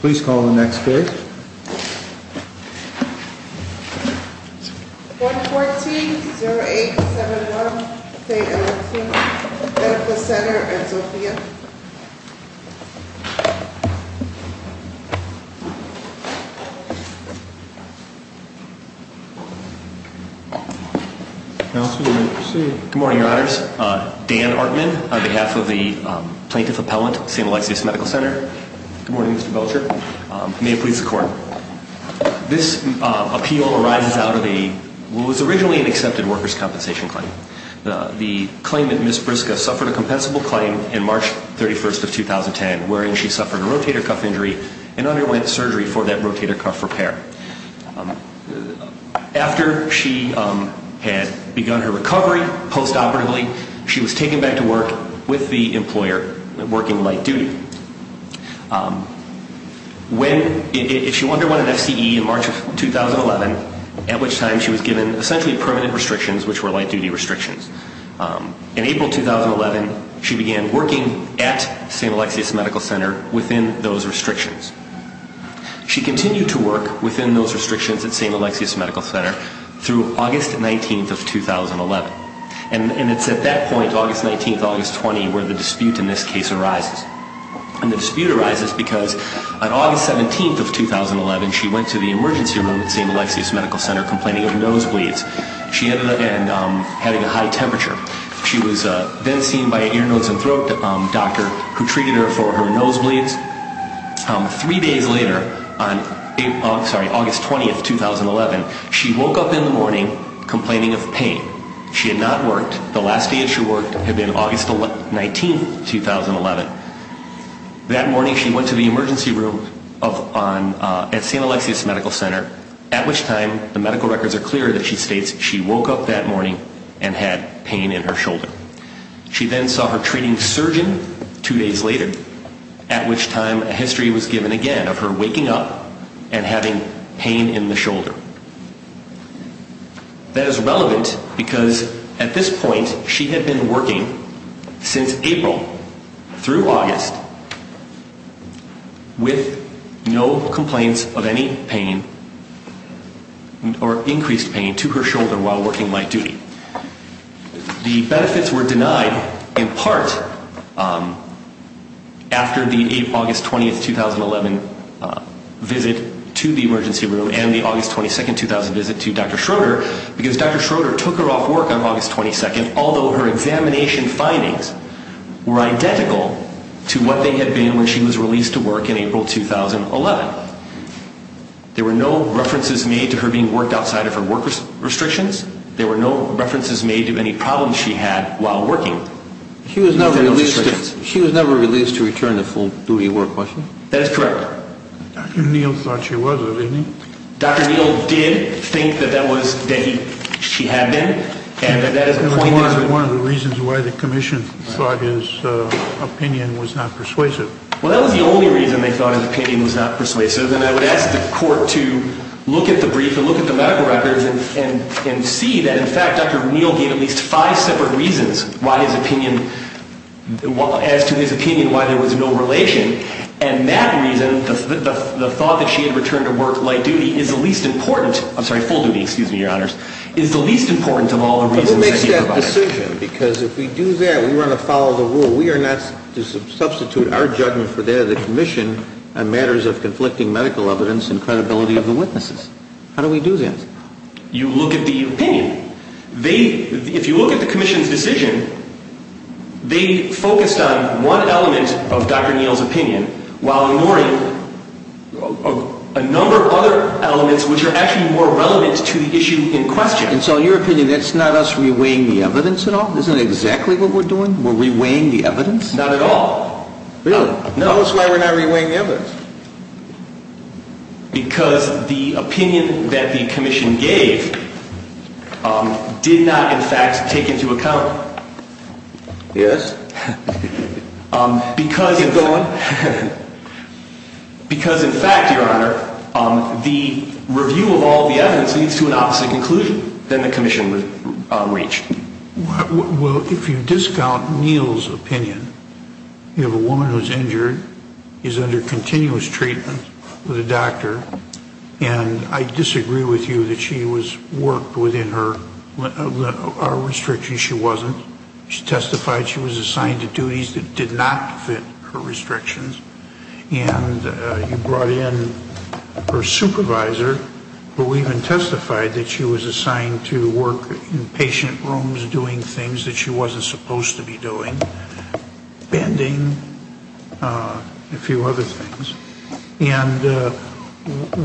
Please call the next case. 114-0871 St. Alexius Medical Center v. Sophia. Counsel, you may proceed. Good morning, Your Honors. Dan Hartman, on behalf of the Plaintiff Appellant, St. Alexius Medical Center. Good morning, Mr. Belcher. May it please the Court. This appeal arises out of what was originally an accepted workers' compensation claim. The claimant, Ms. Briska, suffered a compensable claim in March 31st of 2010, wherein she suffered a rotator cuff injury and underwent surgery for that rotator cuff repair. After she had begun her recovery postoperatively, she was taken back to work with the employer, working light duty. If you wonder what an FCE in March of 2011, at which time she was given essentially permanent restrictions, which were light duty restrictions. In April 2011, she began working at St. Alexius Medical Center within those restrictions. She continued to work within those restrictions at St. Alexius Medical Center through August 19th of 2011. And it's at that point, August 19th, August 20th, where the dispute in this case arises. And the dispute arises because on August 17th of 2011, she went to the emergency room at St. Alexius Medical Center complaining of nosebleeds. She ended up having a high temperature. She was then seen by an ear, nose, and throat doctor who treated her for her nosebleeds. Three days later, on August 20th, 2011, she woke up in the morning complaining of pain. She had not worked. The last day that she worked had been August 19th, 2011. That morning she went to the emergency room at St. Alexius Medical Center, at which time the medical records are clear that she states she woke up that morning and had pain in her shoulder. She then saw her treating surgeon two days later, at which time a history was given again of her waking up and having pain in the shoulder. That is relevant because at this point she had been working since April through August with no complaints of any pain or increased pain to her shoulder while working light duty. The benefits were denied in part after the August 20th, 2011, visit to the emergency room and the August 22nd, 2000 visit to Dr. Schroeder because Dr. Schroeder took her off work on August 22nd, although her examination findings were identical to what they had been when she was released to work in April, 2011. There were no references made to her being worked outside of her work restrictions. There were no references made to any problems she had while working. She was never released to return to full duty work, was she? That is correct. Dr. Neal thought she was, didn't he? Dr. Neal did think that she had been. That was one of the reasons why the commission thought his opinion was not persuasive. Well, that was the only reason they thought his opinion was not persuasive. I would ask the court to look at the brief and look at the medical records and see that in fact Dr. Neal gave at least five separate reasons as to his opinion why there was no relation. And that reason, the thought that she had returned to work light duty is the least important, I'm sorry, full duty, excuse me, your honors, is the least important of all the reasons that he provided. But what makes that decision? Because if we do that, we want to follow the rule. We are not to substitute our judgment for that of the commission on matters of conflicting medical evidence and credibility of the witnesses. How do we do that? You look at the opinion. If you look at the commission's decision, they focused on one element of Dr. Neal's opinion while ignoring a number of other elements which are actually more relevant to the issue in question. And so in your opinion, that's not us reweighing the evidence at all? Isn't that exactly what we're doing? We're reweighing the evidence? Not at all. Really? Because the opinion that the commission gave did not, in fact, take into account. Yes. Because in fact, your honor, the review of all the evidence leads to an opposite conclusion than the commission would reach. Well, if you discount Neal's opinion, you have a woman who's injured, is under continuous treatment with a doctor, and I disagree with you that she was worked within her restrictions. She wasn't. She testified she was assigned to duties that did not fit her restrictions. And you brought in her supervisor, who even testified that she was assigned to work in patient rooms doing things that she wasn't supposed to be doing, bending, a few other things. And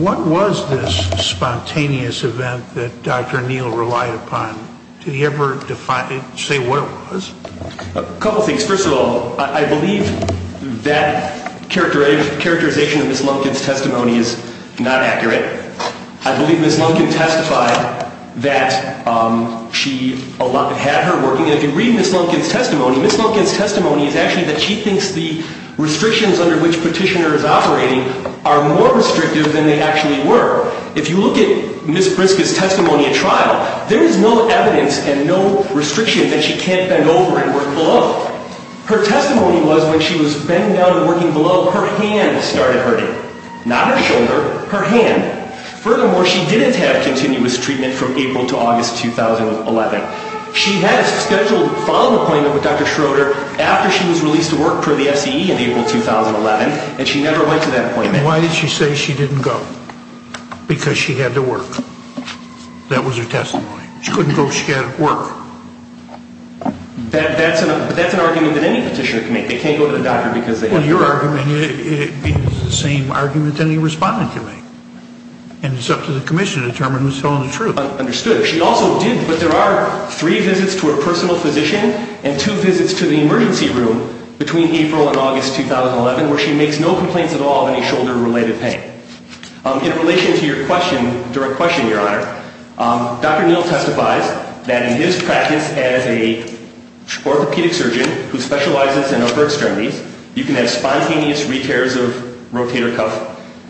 what was this spontaneous event that Dr. Neal relied upon? Did he ever say what it was? A couple things. First of all, I believe that characterization of Ms. Lumpkin's testimony is not accurate. I believe Ms. Lumpkin testified that she had her working. And if you read Ms. Lumpkin's testimony, Ms. Lumpkin's testimony is actually that she thinks the restrictions under which Petitioner is operating are more restrictive than they actually were. If you look at Ms. Britska's testimony at trial, there is no evidence and no restriction that she can't bend over and work below. Her testimony was when she was bending down and working below, her hand started hurting. Not her shoulder, her hand. Furthermore, she didn't have continuous treatment from April to August 2011. She had a scheduled follow-up appointment with Dr. Schroeder after she was released to work for the FCE in April 2011, and she never went to that appointment. And why did she say she didn't go? Because she had to work. That was her testimony. She couldn't go because she had to work. That's an argument that any Petitioner can make. They can't go to the doctor because they have to work. Well, your argument is the same argument that any Respondent can make. And it's up to the Commission to determine who's telling the truth. Understood. She also did, but there are three visits to a personal physician and two visits to the emergency room between April and August 2011 where she makes no complaints at all of any shoulder-related pain. In relation to your question, direct question, Your Honor, Dr. Neal testifies that in his practice as an orthopedic surgeon who specializes in upper extremities, you can have spontaneous repairs of rotator cuff.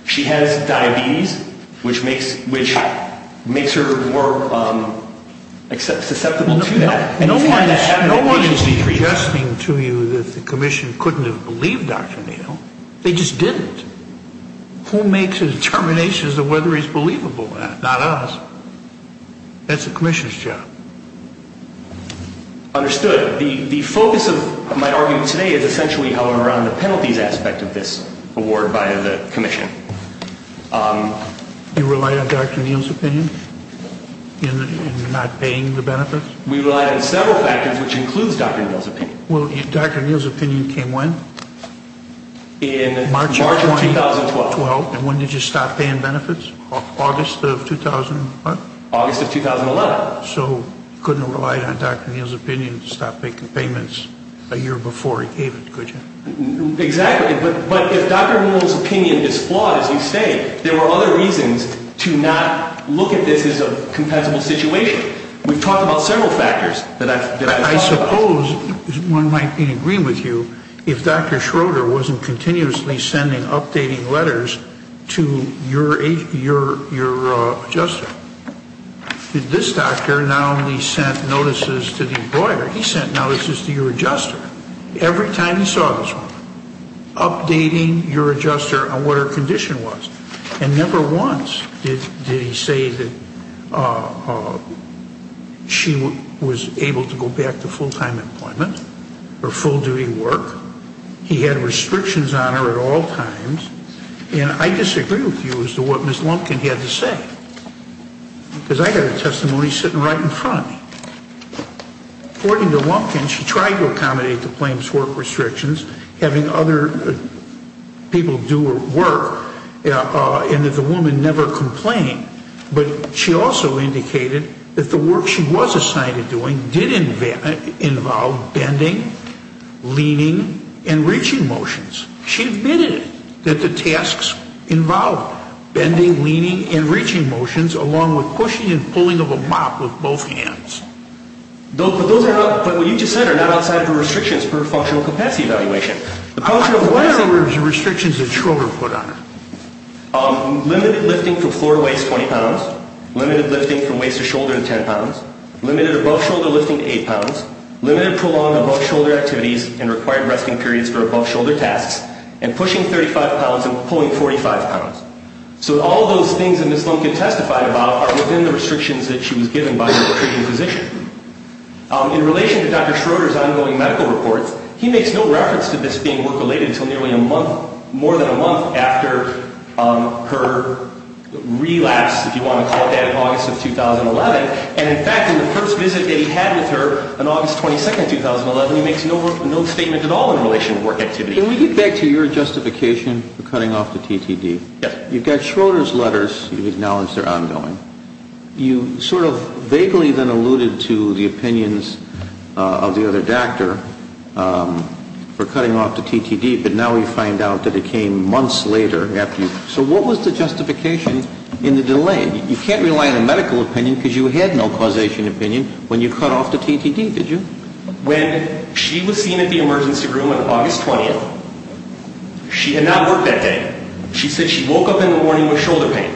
She has diabetes, which makes her more susceptible to that. No one is suggesting to you that the Commission couldn't have believed Dr. Neal. They just didn't. Who makes the determinations of whether he's believable? Not us. That's the Commission's job. Understood. The focus of my argument today is essentially around the penalties aspect of this award by the Commission. You rely on Dr. Neal's opinion in not paying the benefits? We rely on several factors, which includes Dr. Neal's opinion. Dr. Neal's opinion came when? In March of 2012. And when did you stop paying benefits? August of 2011. So you couldn't rely on Dr. Neal's opinion to stop making payments a year before he gave it, could you? Exactly. But if Dr. Neal's opinion is flawed, as you say, there are other reasons to not look at this as a compensable situation. We've talked about several factors that I've talked about. I suppose one might be in agreement with you if Dr. Schroeder wasn't continuously sending updating letters to your adjuster. This doctor not only sent notices to the employer, he sent notices to your adjuster every time he saw this woman, updating your adjuster on what her condition was. And never once did he say that she was able to go back to full-time employment or full-duty work. He had restrictions on her at all times. And I disagree with you as to what Ms. Lumpkin had to say, because I got her testimony sitting right in front of me. According to Lumpkin, she tried to accommodate the plaintiff's work restrictions, having other people do her work, and that the woman never complained. But she also indicated that the work she was assigned to doing did involve bending, leaning, and reaching motions. She admitted that the tasks involved bending, leaning, and reaching motions, along with pushing and pulling of a mop with both hands. But what you just said are not outside the restrictions per functional capacity evaluation. I'm not aware of the restrictions that Schroeder put on her. Limited lifting from floor to waist 20 pounds. Limited lifting from waist to shoulder 10 pounds. Limited above-shoulder lifting 8 pounds. Limited prolonged above-shoulder activities and required resting periods for above-shoulder tasks. And pushing 35 pounds and pulling 45 pounds. So all those things that Ms. Lumpkin testified about are within the restrictions that she was given by her treating physician. In relation to Dr. Schroeder's ongoing medical reports, he makes no reference to this being work-related until nearly a month, more than a month, after her relapse, if you want to call it that, in August of 2011. And, in fact, in the first visit that he had with her on August 22, 2011, he makes no statement at all in relation to work activity. Can we get back to your justification for cutting off the TTD? Yes. You've got Schroeder's letters. You've acknowledged they're ongoing. You sort of vaguely then alluded to the opinions of the other doctor for cutting off the TTD, but now we find out that it came months later after you. So what was the justification in the delay? You can't rely on a medical opinion because you had no causation opinion when you cut off the TTD, did you? When she was seen at the emergency room on August 20th, she had not worked that day. She said she woke up in the morning with shoulder pain.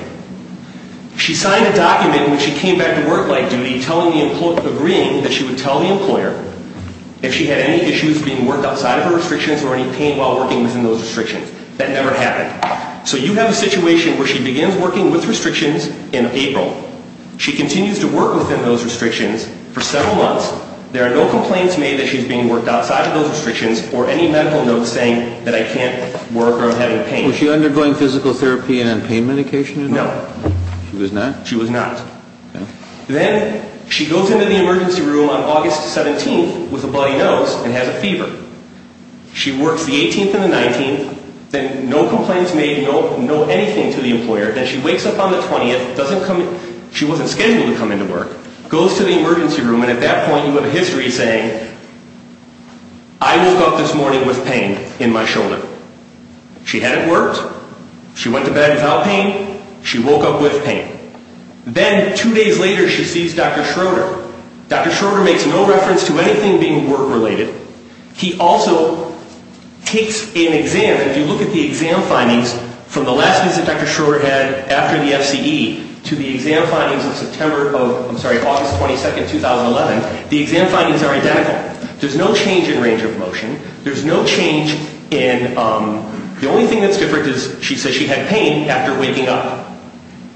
She signed a document when she came back to work light duty agreeing that she would tell the employer if she had any issues being worked outside of her restrictions or any pain while working within those restrictions. That never happened. So you have a situation where she begins working with restrictions in April. She continues to work within those restrictions for several months. There are no complaints made that she's being worked outside of those restrictions or any medical notes saying that I can't work or I'm having pain. Was she undergoing physical therapy and pain medication? No. She was not? She was not. Then she goes into the emergency room on August 17th with a bloody nose and has a fever. She works the 18th and the 19th. No complaints made, no anything to the employer. Then she wakes up on the 20th. She wasn't scheduled to come into work. Goes to the emergency room and at that point you have a history saying I woke up this morning with pain in my shoulder. She hadn't worked. She went to bed without pain. She woke up with pain. Then two days later she sees Dr. Schroeder. Dr. Schroeder makes no reference to anything being work related. He also takes an exam. If you look at the exam findings from the last visit Dr. Schroeder had after the FCE to the exam findings in August 22, 2011, the exam findings are identical. There's no change in range of motion. There's no change in the only thing that's different is she says she had pain after waking up.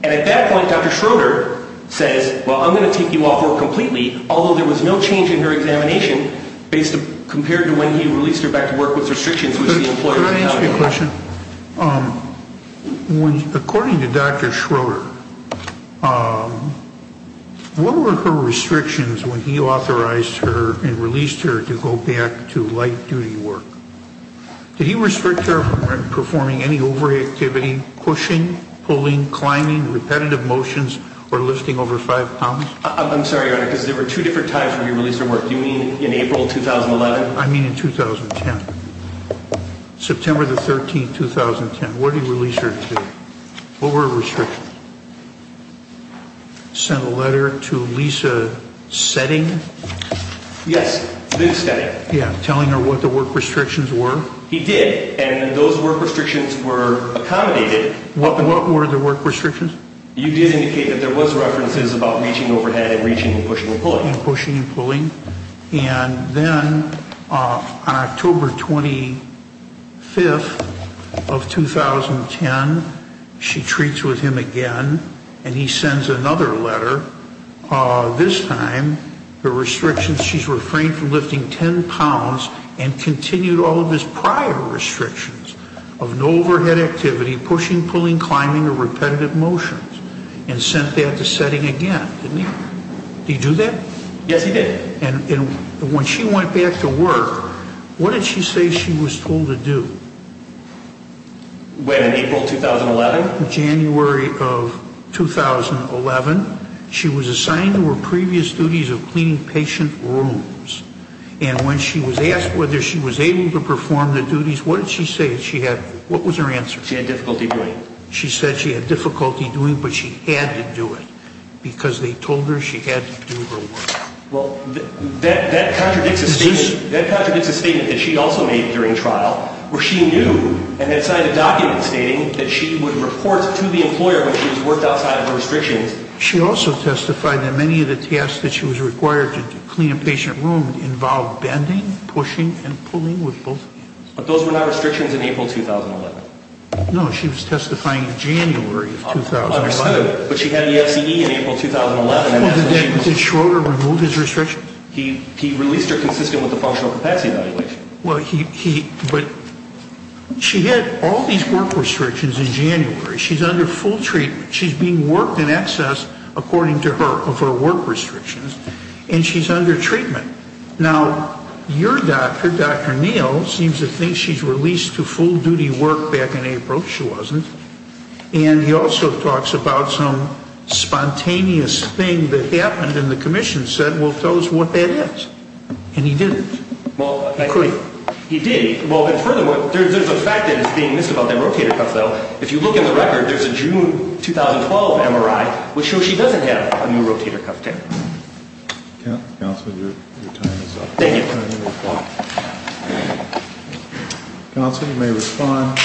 And at that point Dr. Schroeder says, well, I'm going to take you off work completely, although there was no change in her examination compared to when he released her back to work with restrictions. Can I ask you a question? According to Dr. Schroeder, what were her restrictions when he authorized her and released her to go back to light duty work? Did he restrict her from performing any over activity, pushing, pulling, climbing, repetitive motions, or lifting over five pounds? I'm sorry, Your Honor, because there were two different times when he released her to work. Do you mean in April 2011? I mean in 2010. September 13, 2010. What did he release her to? What were her restrictions? Sent a letter to Lisa setting? Yes, Lisa setting. Yes, telling her what the work restrictions were? He did. And those work restrictions were accommodated. What were the work restrictions? You did indicate that there was references about reaching overhead and reaching and pushing and pulling. And pushing and pulling. And then on October 25th of 2010, she treats with him again and he sends another letter. This time, the restrictions, she's refrained from lifting 10 pounds and continued all of his prior restrictions of no overhead activity, pushing, pulling, climbing, or repetitive motions. And sent that to setting again, didn't he? Did he do that? Yes, he did. And when she went back to work, what did she say she was told to do? When, in April 2011? January of 2011. She was assigned to her previous duties of cleaning patient rooms. And when she was asked whether she was able to perform the duties, what did she say she had? What was her answer? She had difficulty doing it. She said she had difficulty doing it, but she had to do it because they told her she had to do her work. Well, that contradicts a statement that she also made during trial, where she knew and had signed a document stating that she would report to the employer when she was worked outside of her restrictions. She also testified that many of the tasks that she was required to do to clean a patient room involved bending, pushing, and pulling with both hands. But those were not restrictions in April 2011. No, she was testifying in January of 2005. Understood. But she had the FCE in April 2011. Did Schroeder remove his restrictions? He released her consistent with the functional capacity evaluation. But she had all these work restrictions in January. She's under full treatment. She's being worked in excess, according to her, of her work restrictions. And she's under treatment. Now, your doctor, Dr. Neal, seems to think she's released to full-duty work back in April. She wasn't. And he also talks about some spontaneous thing that happened, and the commission said, well, tell us what that is. And he didn't. He couldn't. He did. Well, and furthermore, there's a fact that is being missed about that rotator cuff, though. If you look in the record, there's a June 2012 MRI, which shows she doesn't have a new rotator cuff. Counselor, your time is up. Thank you. Counselor, you may respond.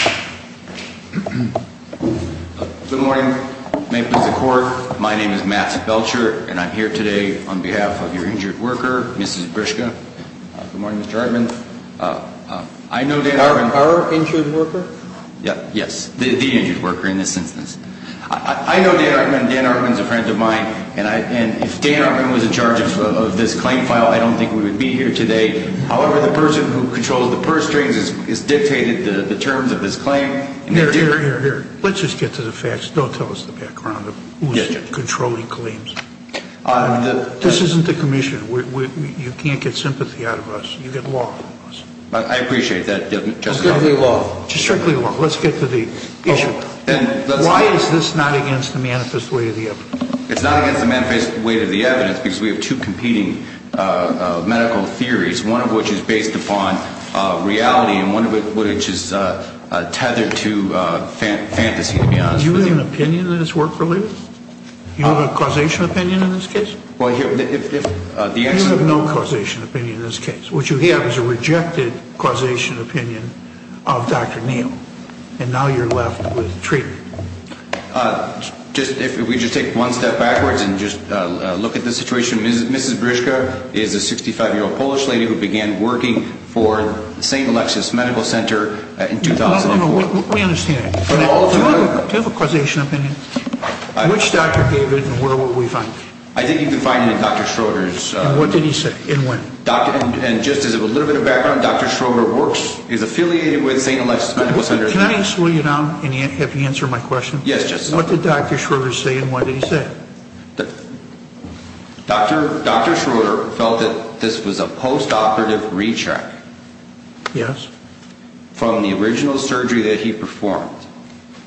Good morning. May it please the Court. My name is Matt Belcher, and I'm here today on behalf of your injured worker, Mrs. Grishka. Good morning, Mr. Hartman. I know Dan Hartman. Our injured worker? Yes, the injured worker in this instance. I know Dan Hartman. Dan Hartman is a friend of mine. And if Dan Hartman was in charge of this claim file, I don't think we would be here today. However, the person who controls the purse strings has dictated the terms of this claim. Here, here, here, here. Let's just get to the facts. Don't tell us the background of who's controlling claims. This isn't the commission. You can't get sympathy out of us. You get law from us. I appreciate that, Justice Kennedy. Strictly law. Strictly law. Let's get to the issue. Why is this not against the manifest way of the evidence? It's not against the manifest way of the evidence because we have two competing medical theories, one of which is based upon reality and one of which is tethered to fantasy, to be honest with you. Do you have an opinion that it's work-related? Do you have a causation opinion in this case? Well, here, if, if, if, if the ex- You have no causation opinion in this case. What you have is a rejected causation opinion of Dr. Neal. And now you're left with treatment. Just, if we just take one step backwards and just look at the situation, Mrs. Brzyczka is a 65-year-old Polish lady who began working for St. Alexis Medical Center in 2004. We understand that. Do you have a causation opinion? Which doctor gave it and where will we find it? I think you can find it in Dr. Schroeder's. And what did he say? And when? And just as a little bit of background, Dr. Schroeder works, is affiliated with St. Alexis Medical Center. Can I slow you down and have you answer my question? Yes. What did Dr. Schroeder say and why did he say it? Dr. Schroeder felt that this was a post-operative recheck. Yes. From the original surgery that he performed.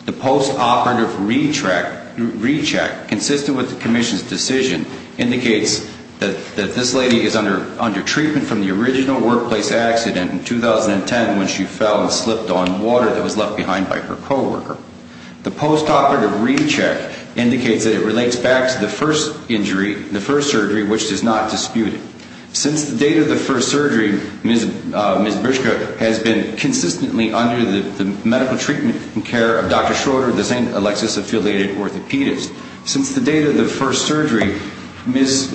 The post-operative recheck, consistent with the commission's decision, indicates that this lady is under treatment from the original workplace accident in 2010 when she fell and slipped on water that was left behind by her co-worker. The post-operative recheck indicates that it relates back to the first injury, the first surgery, which is not disputed. Since the date of the first surgery, Mrs. Brzyczka has been consistently under the medical treatment and care of Dr. Schroeder, the St. Alexis affiliated orthopedist. Since the date of the first surgery, Mrs.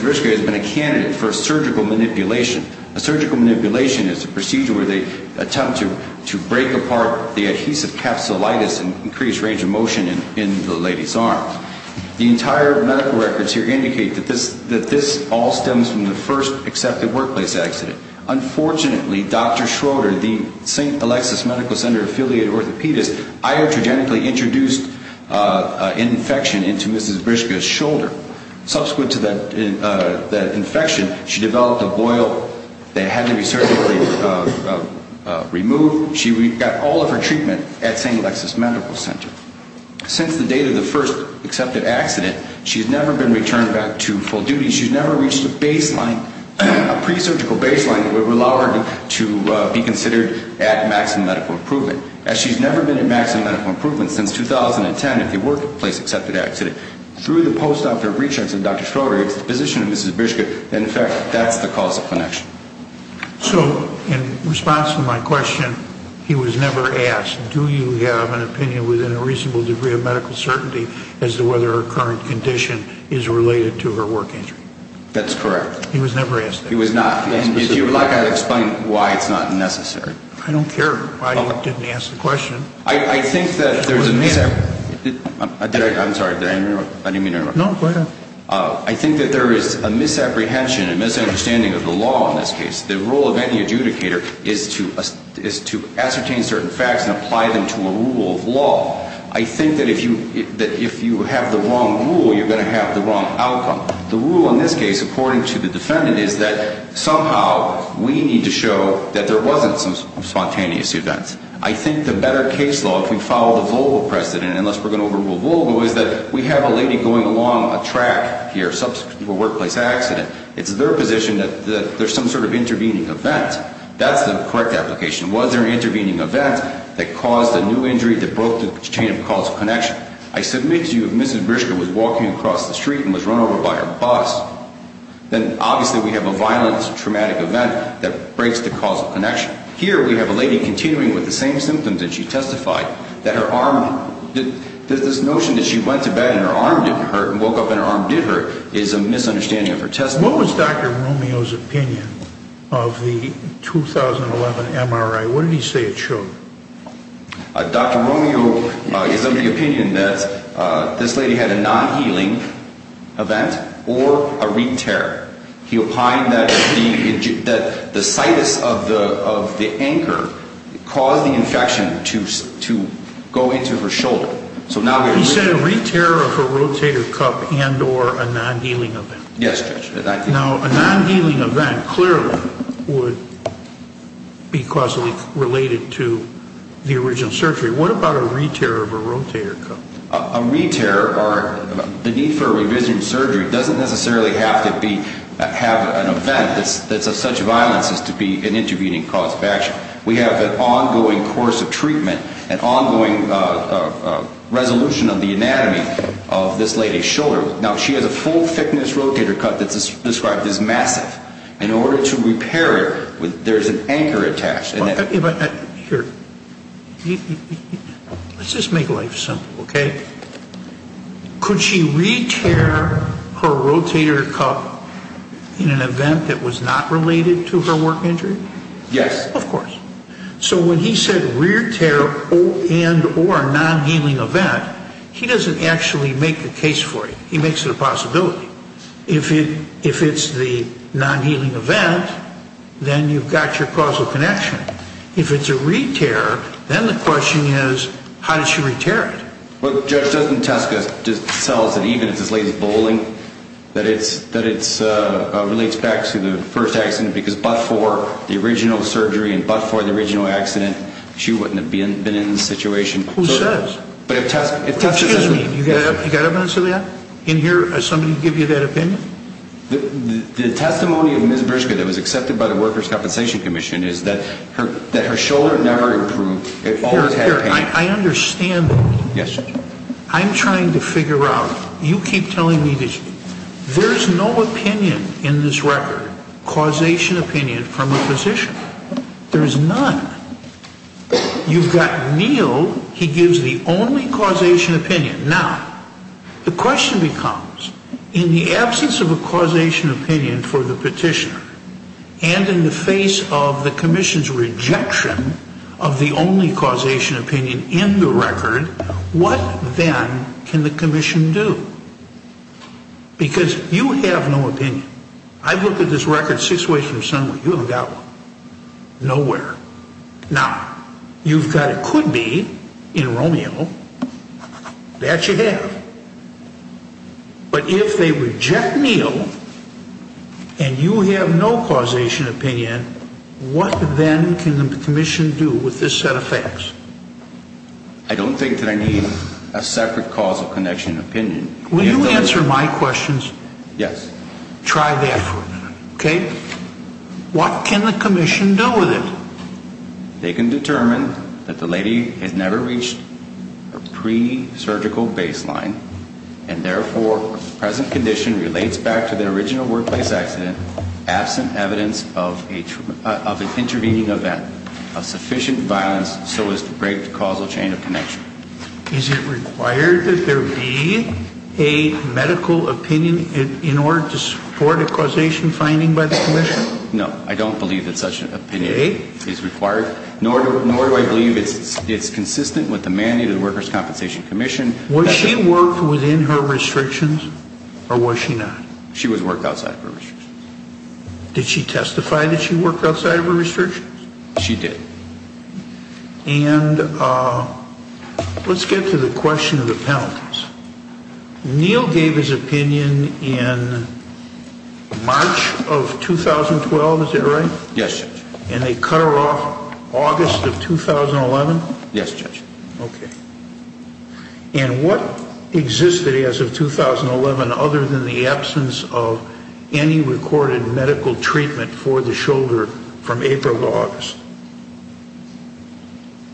Brzyczka has been a candidate for surgical manipulation. A surgical manipulation is a procedure where they attempt to break apart the adhesive capsulitis and increase range of motion in the lady's arms. The entire medical records here indicate that this all stems from the first accepted workplace accident. Unfortunately, Dr. Schroeder, the St. Alexis Medical Center affiliated orthopedist, iatrogenically introduced an infection into Mrs. Brzyczka's shoulder. Subsequent to that infection, she developed a boil that had to be surgically removed. She got all of her treatment at St. Alexis Medical Center. Since the date of the first accepted accident, she has never been returned back to full duty. She's never reached a baseline, a pre-surgical baseline that would allow her to be considered at maximum medical improvement. As she's never been at maximum medical improvement since 2010, if the workplace accepted accident, through the post-operative research of Dr. Schroeder, it's the position of Mrs. Brzyczka, and in fact, that's the cause of connection. So in response to my question, he was never asked, do you have an opinion within a reasonable degree of medical certainty as to whether her current condition is related to her work injury? That's correct. He was never asked that? He was not. And if you would like, I'll explain why it's not necessary. I don't care why you didn't ask the question. I think that there is a misapprehension and misunderstanding of the law in this case. The role of any adjudicator is to ascertain certain facts and apply them to a rule of law. I think that if you have the wrong rule, you're going to have the wrong outcome. The rule in this case, according to the defendant, is that somehow we need to show that there wasn't some spontaneous event. I think the better case law, if we follow the Volvo precedent, unless we're going to overrule Volvo, is that we have a lady going along a track here, subsequent to a workplace accident. It's their position that there's some sort of intervening event. That's the correct application. Was there an intervening event that caused a new injury that broke the chain of causal connection? I submit to you if Mrs. Brzyczka was walking across the street and was run over by her bus, then obviously we have a violent traumatic event that breaks the causal connection. Here we have a lady continuing with the same symptoms that she testified, that this notion that she went to bed and her arm didn't hurt and woke up and her arm did hurt is a misunderstanding of her testimony. What was Dr. Romeo's opinion of the 2011 MRI? What did he say it showed? Dr. Romeo is of the opinion that this lady had a non-healing event or a re-tear. He opined that the situs of the anchor caused the infection to go into her shoulder. He said a re-tear of a rotator cup and or a non-healing event. Yes, Judge. Now, a non-healing event clearly would be causally related to the original surgery. What about a re-tear of a rotator cup? A re-tear or the need for a revision surgery doesn't necessarily have to have an event that's of such violence as to be an intervening cause of action. We have an ongoing course of treatment, an ongoing resolution of the anatomy of this lady's shoulder. Now, she has a full thickness rotator cup that's described as massive. In order to repair it, there's an anchor attached. Let's just make life simple, okay? Could she re-tear her rotator cup in an event that was not related to her work injury? Yes. Of course. So when he said re-tear and or non-healing event, he doesn't actually make the case for it. He makes it a possibility. If it's the non-healing event, then you've got your causal connection. If it's a re-tear, then the question is how did she re-tear it? Well, Judge, doesn't Teska just tell us that even if this lady's bowling, that it relates back to the first accident because but for the original surgery and but for the original accident, she wouldn't have been in this situation? Who says? Excuse me. You got evidence of that in here? Did somebody give you that opinion? The testimony of Ms. Bershka that was accepted by the Workers' Compensation Commission is that her shoulder never improved. It always had pain. I understand that. Yes. I'm trying to figure out. You keep telling me this. There's no opinion in this record, causation opinion, from a physician. There is none. You've got Neal. He gives the only causation opinion. Now, the question becomes in the absence of a causation opinion for the petitioner and in the face of the commission's rejection of the only causation opinion in the record, what then can the commission do? Because you have no opinion. I've looked at this record six ways from Sunway. You haven't got one. Nowhere. Now, you've got a could be in Romeo. That you have. But if they reject Neal and you have no causation opinion, what then can the commission do with this set of facts? I don't think that I need a separate causal connection opinion. Will you answer my questions? Yes. Try that for a minute, okay? What can the commission do with it? They can determine that the lady has never reached a pre-surgical baseline and, therefore, present condition relates back to the original workplace accident absent evidence of an intervening event of sufficient violence Is it required that there be a medical opinion in order to support a causation finding by the commission? No, I don't believe that such an opinion is required, nor do I believe it's consistent with the mandate of the Workers' Compensation Commission. Was she worked within her restrictions or was she not? She was worked outside of her restrictions. Did she testify that she worked outside of her restrictions? She did. And let's get to the question of the penalties. Neal gave his opinion in March of 2012, is that right? Yes, Judge. And they cut her off August of 2011? Yes, Judge. Okay. And what existed as of 2011 other than the absence of any recorded medical treatment for the shoulder from April to August?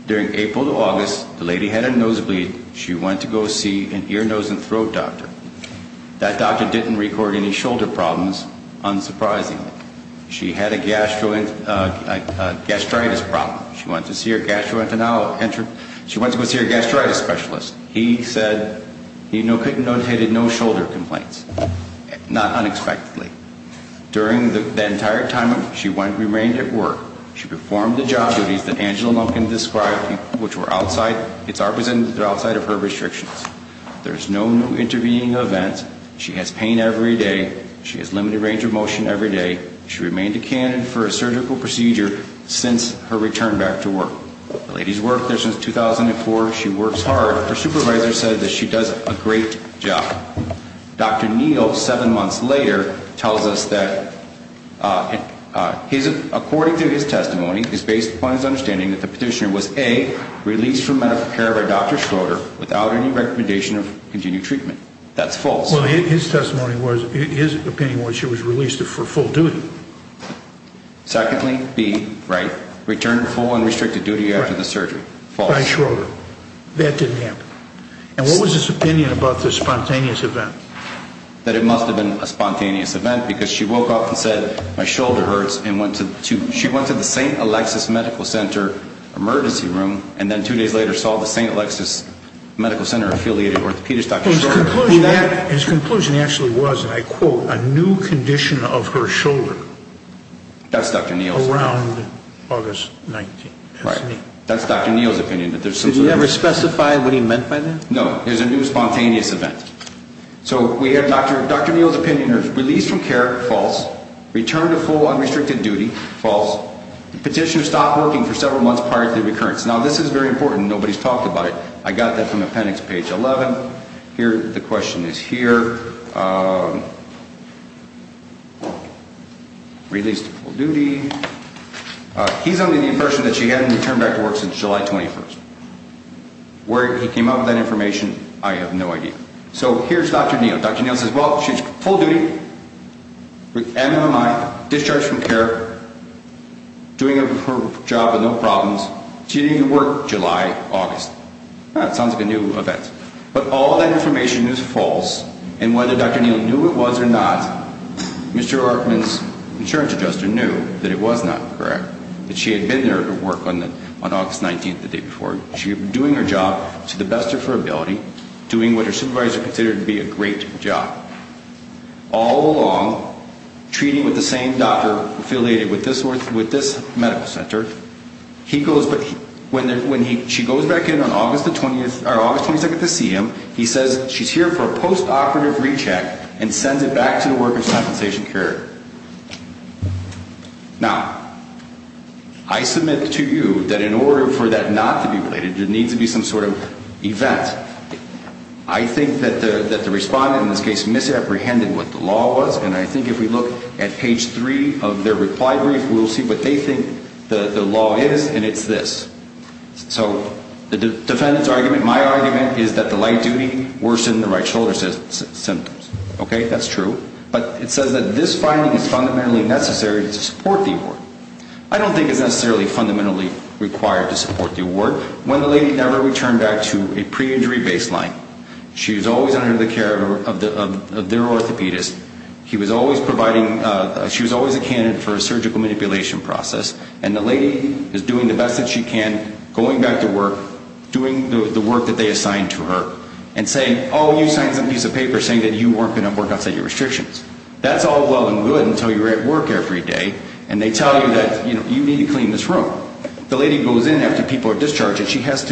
During April to August, the lady had a nosebleed. She went to go see an ear, nose, and throat doctor. That doctor didn't record any shoulder problems, unsurprisingly. She had a gastritis problem. She went to see her gastroenterologist. He said he notated no shoulder complaints, not unexpectedly. During the entire time she remained at work, she performed the job duties that Angela Lumpkin described, which were outside of her restrictions. There's no new intervening events. She has pain every day. She has limited range of motion every day. She remained a candidate for a surgical procedure since her return back to work. The lady's worked there since 2004. She works hard. Her supervisor said that she does a great job. Dr. Neal, seven months later, tells us that according to his testimony, it's based upon his understanding that the petitioner was, A, released from medical care by Dr. Schroeder without any recommendation of continued treatment. That's false. Well, his testimony was, his opinion was she was released for full duty. Secondly, B, right, returned full and restricted duty after the surgery. False. By Schroeder. That didn't happen. And what was his opinion about this spontaneous event? That it must have been a spontaneous event because she woke up and said my shoulder hurts and went to the St. Alexis Medical Center emergency room and then two days later saw the St. Alexis Medical Center affiliated orthopedist, Dr. Schroeder. His conclusion actually was, and I quote, a new condition of her shoulder. That's Dr. Neal's opinion. Around August 19th. Right. That's Dr. Neal's opinion. Did he ever specify what he meant by that? No. It was a new spontaneous event. So we have Dr. Neal's opinion. Released from care. False. Returned to full unrestricted duty. False. Petitioner stopped working for several months prior to the recurrence. Now, this is very important. Nobody's talked about it. I got that from appendix page 11. Here, the question is here. Released full duty. He's only the person that she hadn't returned back to work since July 21st. Where he came up with that information, I have no idea. So here's Dr. Neal. Dr. Neal says, well, she's full duty. With MMI. Discharged from care. Doing her job with no problems. She didn't even work July, August. That sounds like a new event. But all that information is false. And whether Dr. Neal knew it was or not, Mr. Archman's insurance adjuster knew that it was not correct. That she had been there to work on August 19th, the day before. She had been doing her job to the best of her ability. Doing what her supervisor considered to be a great job. All along, treating with the same doctor affiliated with this medical center. He goes, when she goes back in on August 22nd to see him, he says, she's here for a post-operative recheck. And sends it back to the workers' compensation carrier. Now, I submit to you that in order for that not to be related, there needs to be some sort of event. I think that the respondent in this case misapprehended what the law was. And I think if we look at page 3 of their reply brief, we'll see what they think the law is. And it's this. So the defendant's argument, my argument, is that the light duty worsened the right shoulder symptoms. Okay, that's true. But it says that this finding is fundamentally necessary to support the award. I don't think it's necessarily fundamentally required to support the award. When the lady never returned back to a pre-injury baseline, she was always under the care of their orthopedist. She was always a candidate for a surgical manipulation process. And the lady is doing the best that she can, going back to work, doing the work that they assigned to her, and saying, oh, you signed some piece of paper saying that you weren't going to work outside your restrictions. That's all well and good until you're at work every day, and they tell you that you need to clean this room. The lady goes in after people are discharged, and she has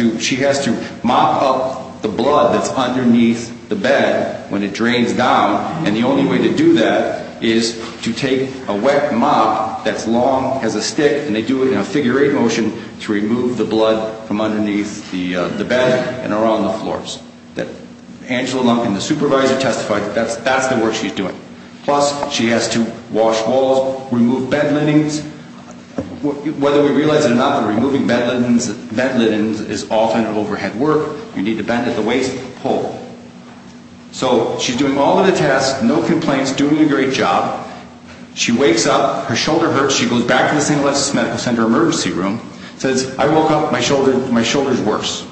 to mop up the blood that's underneath the bed when it drains down. And the only way to do that is to take a wet mop that's long, has a stick, and they do it in a figure-eight motion to remove the blood from underneath the bed and around the floors. Angela Lumpkin, the supervisor, testified that that's the work she's doing. Plus, she has to wash walls, remove bed linens. Whether we realize it or not, removing bed linens is often overhead work. You need to bend at the waist, pull. So she's doing all of the tasks, no complaints, doing a great job. She wakes up, her shoulder hurts. She goes back to the St. Alexis Medical Center emergency room, says, I woke up, my shoulder's worse.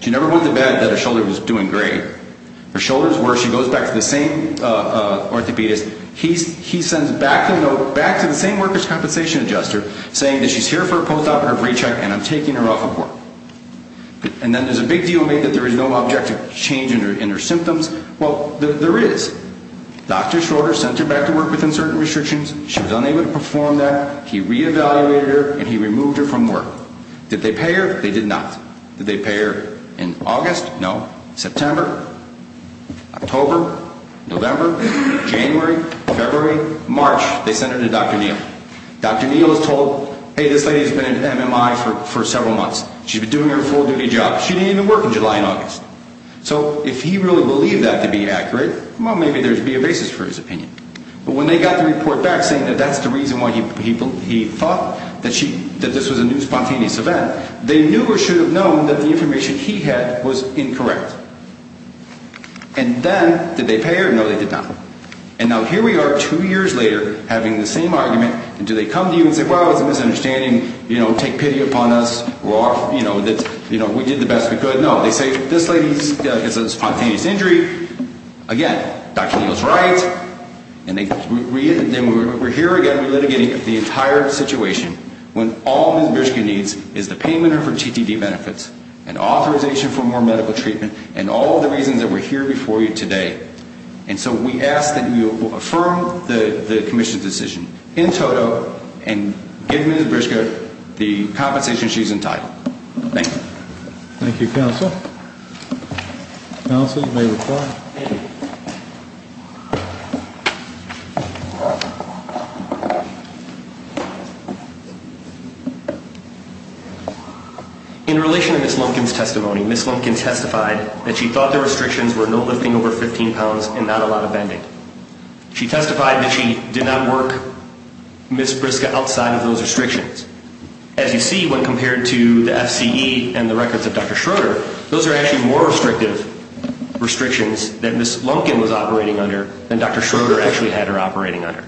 She never went to bed that her shoulder was doing great. Her shoulder's worse. She goes back to the same orthopedist. He sends back the note back to the same workers' compensation adjuster saying that she's here for a post-op or a pre-check, and I'm taking her off of work. And then there's a big deal made that there is no objective change in her symptoms. Well, there is. Dr. Schroeder sent her back to work within certain restrictions. She was unable to perform that. He re-evaluated her, and he removed her from work. Did they pay her? They did not. Did they pay her in August? No. September, October, November, January, February, March, they sent her to Dr. Neal. Dr. Neal is told, hey, this lady's been in MMI for several months. She's been doing her full-duty job. She didn't even work in July and August. So if he really believed that to be accurate, well, maybe there would be a basis for his opinion. But when they got the report back saying that that's the reason why he thought that this was a new spontaneous event, they knew or should have known that the information he had was incorrect. And then, did they pay her? No, they did not. And now here we are two years later having the same argument, and do they come to you and say, well, it was a misunderstanding, take pity upon us, we're off, we did the best we could? No, they say this lady has a spontaneous injury. Again, Dr. Neal is right. And then we're here again litigating the entire situation when all Ms. Bierschke needs is the payment of her TTD benefits and authorization for more medical treatment and all of the reasons that we're here before you today. And so we ask that you affirm the commission's decision in toto and give Ms. Bierschke the compensation she's entitled. Thank you. Thank you, Counsel. Counsel, you may reply. In relation to Ms. Lumpkin's testimony, Ms. Lumpkin testified that she thought the restrictions were no lifting over 15 pounds and not a lot of bending. She testified that she did not work Ms. Bierschke outside of those restrictions. As you see, when compared to the FCE and the records of Dr. Schroeder, those are actually more restrictive restrictions that Ms. Lumpkin was operating under than Dr. Schroeder actually had her operating under.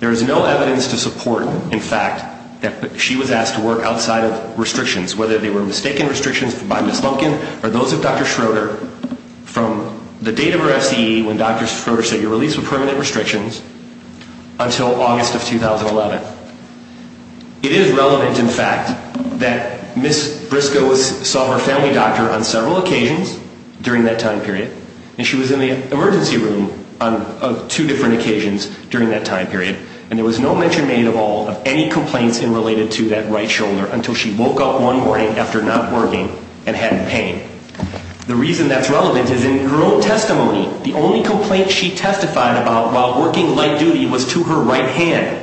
There is no evidence to support, in fact, that she was asked to work outside of restrictions, whether they were mistaken restrictions by Ms. Lumpkin or those of Dr. Schroeder from the date of her FCE when Dr. Schroeder said you're released with permanent restrictions until August of 2011. It is relevant, in fact, that Ms. Bierschke saw her family doctor on several occasions during that time period, and she was in the emergency room on two different occasions during that time period, and there was no mention made at all of any complaints related to that right shoulder until she woke up one morning after not working and had pain. The reason that's relevant is in her own testimony. The only complaint she testified about while working light duty was to her right hand.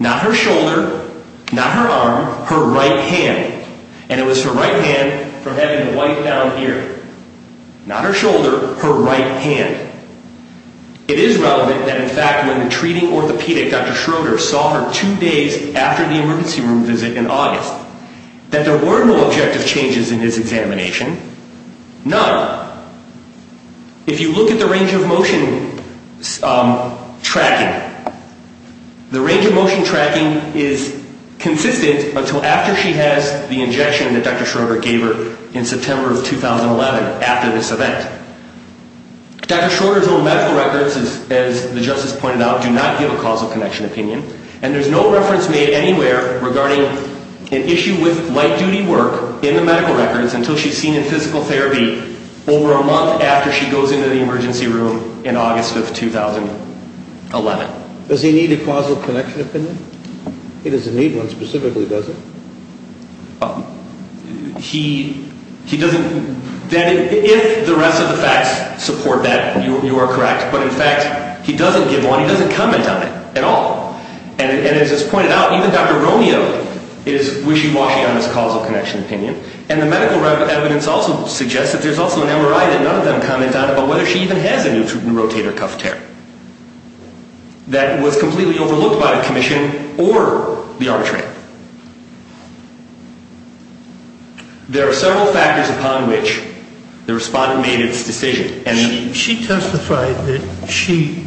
Not her shoulder, not her arm, her right hand. And it was her right hand from having to wipe down here. Not her shoulder, her right hand. It is relevant that, in fact, when the treating orthopedic, Dr. Schroeder, saw her two days after the emergency room visit in August, that there were no objective changes in his examination, none. If you look at the range of motion tracking, the range of motion tracking is consistent until after she has the injection that Dr. Schroeder gave her in September of 2011 after this event. Dr. Schroeder's own medical records, as the justice pointed out, do not give a causal connection opinion, and there's no reference made anywhere regarding an issue with light duty work in the medical records until she's seen in physical therapy over a month after she goes into the emergency room in August of 2011. Does he need a causal connection opinion? He doesn't need one specifically, does he? He doesn't. If the rest of the facts support that, you are correct. But, in fact, he doesn't give one. He doesn't comment on it at all. And as is pointed out, even Dr. Romeo is wishy-washy on his causal connection opinion. And the medical evidence also suggests that there's also an MRI that none of them comment on about whether she even has a new rotator cuff tear that was completely overlooked by the commission or the arbitrator. There are several factors upon which the respondent made its decision. She testified that she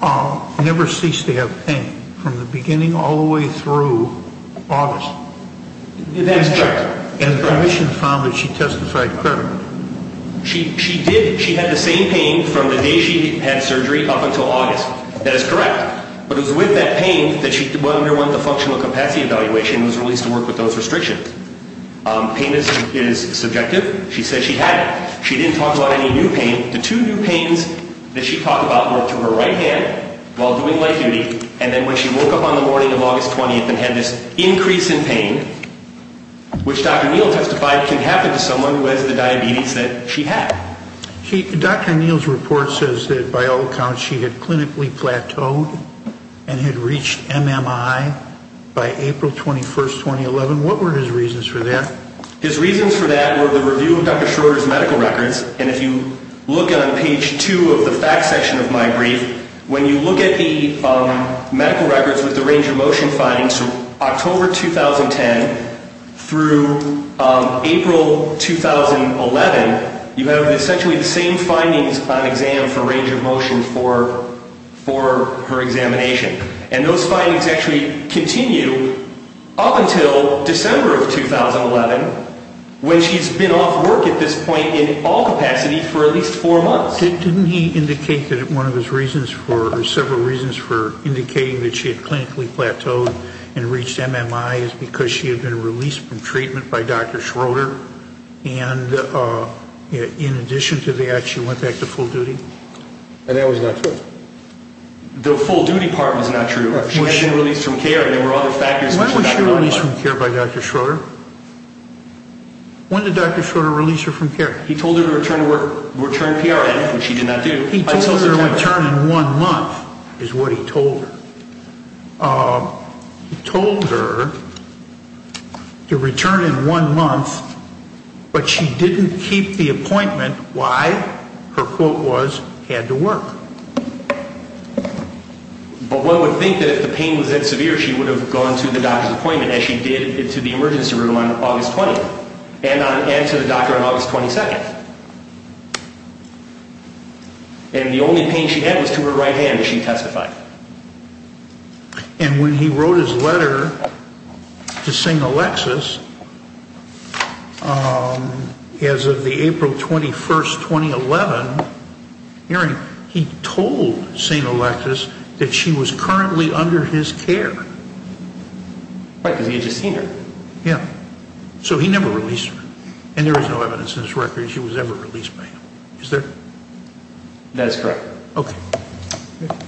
never ceased to have pain from the beginning all the way through August. That's correct. And the commission found that she testified permanently. She did. She had the same pain from the day she had surgery up until August. That is correct. But it was with that pain that she underwent the functional capacity evaluation and was released to work with those restrictions. Pain is subjective. She said she had it. She didn't talk about any new pain. The two new pains that she talked about were to her right hand while doing light duty, and then when she woke up on the morning of August 20th and had this increase in pain, which Dr. Neal testified can happen to someone who has the diabetes that she had. Dr. Neal's report says that, by all accounts, she had clinically plateaued and had reached MMI by April 21, 2011. What were his reasons for that? His reasons for that were the review of Dr. Schroeder's medical records. And if you look on page 2 of the facts section of my brief, when you look at the medical records with the range of motion findings, October 2010 through April 2011, you have essentially the same findings on exam for range of motion for her examination. And those findings actually continue up until December of 2011, when she's been off work at this point in all capacity for at least four months. Didn't he indicate that one of his reasons for, or several reasons for indicating that she had clinically plateaued and reached MMI is because she had been released from treatment by Dr. Schroeder? And in addition to that, she went back to full duty? That was not true. The full duty part was not true. She had been released from care, and there were other factors. Why was she released from care by Dr. Schroeder? When did Dr. Schroeder release her from care? He told her to return to work, return PRN, which she did not do. He told her to return in one month is what he told her. He told her to return in one month, but she didn't keep the appointment. Why? Her quote was, had to work. But one would think that if the pain was that severe, she would have gone to the doctor's appointment, as she did to the emergency room on August 20th, and to the doctor on August 22nd. And the only pain she had was to her right hand, as she testified. And when he wrote his letter to St. Alexis, as of the April 21, 2011 hearing, he told St. Alexis that she was currently under his care. Right, because he had just seen her. Yeah. So he never released her. And there is no evidence in this record that she was ever released by him. Is there? That is correct. Okay.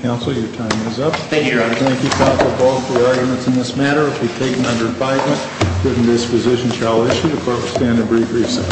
Counsel, your time is up. Thank you, Your Honor. Thank you, Counsel Ball, for your arguments in this matter. If you've taken under advisement, written disposition shall issue. The Court will stand at brief recess.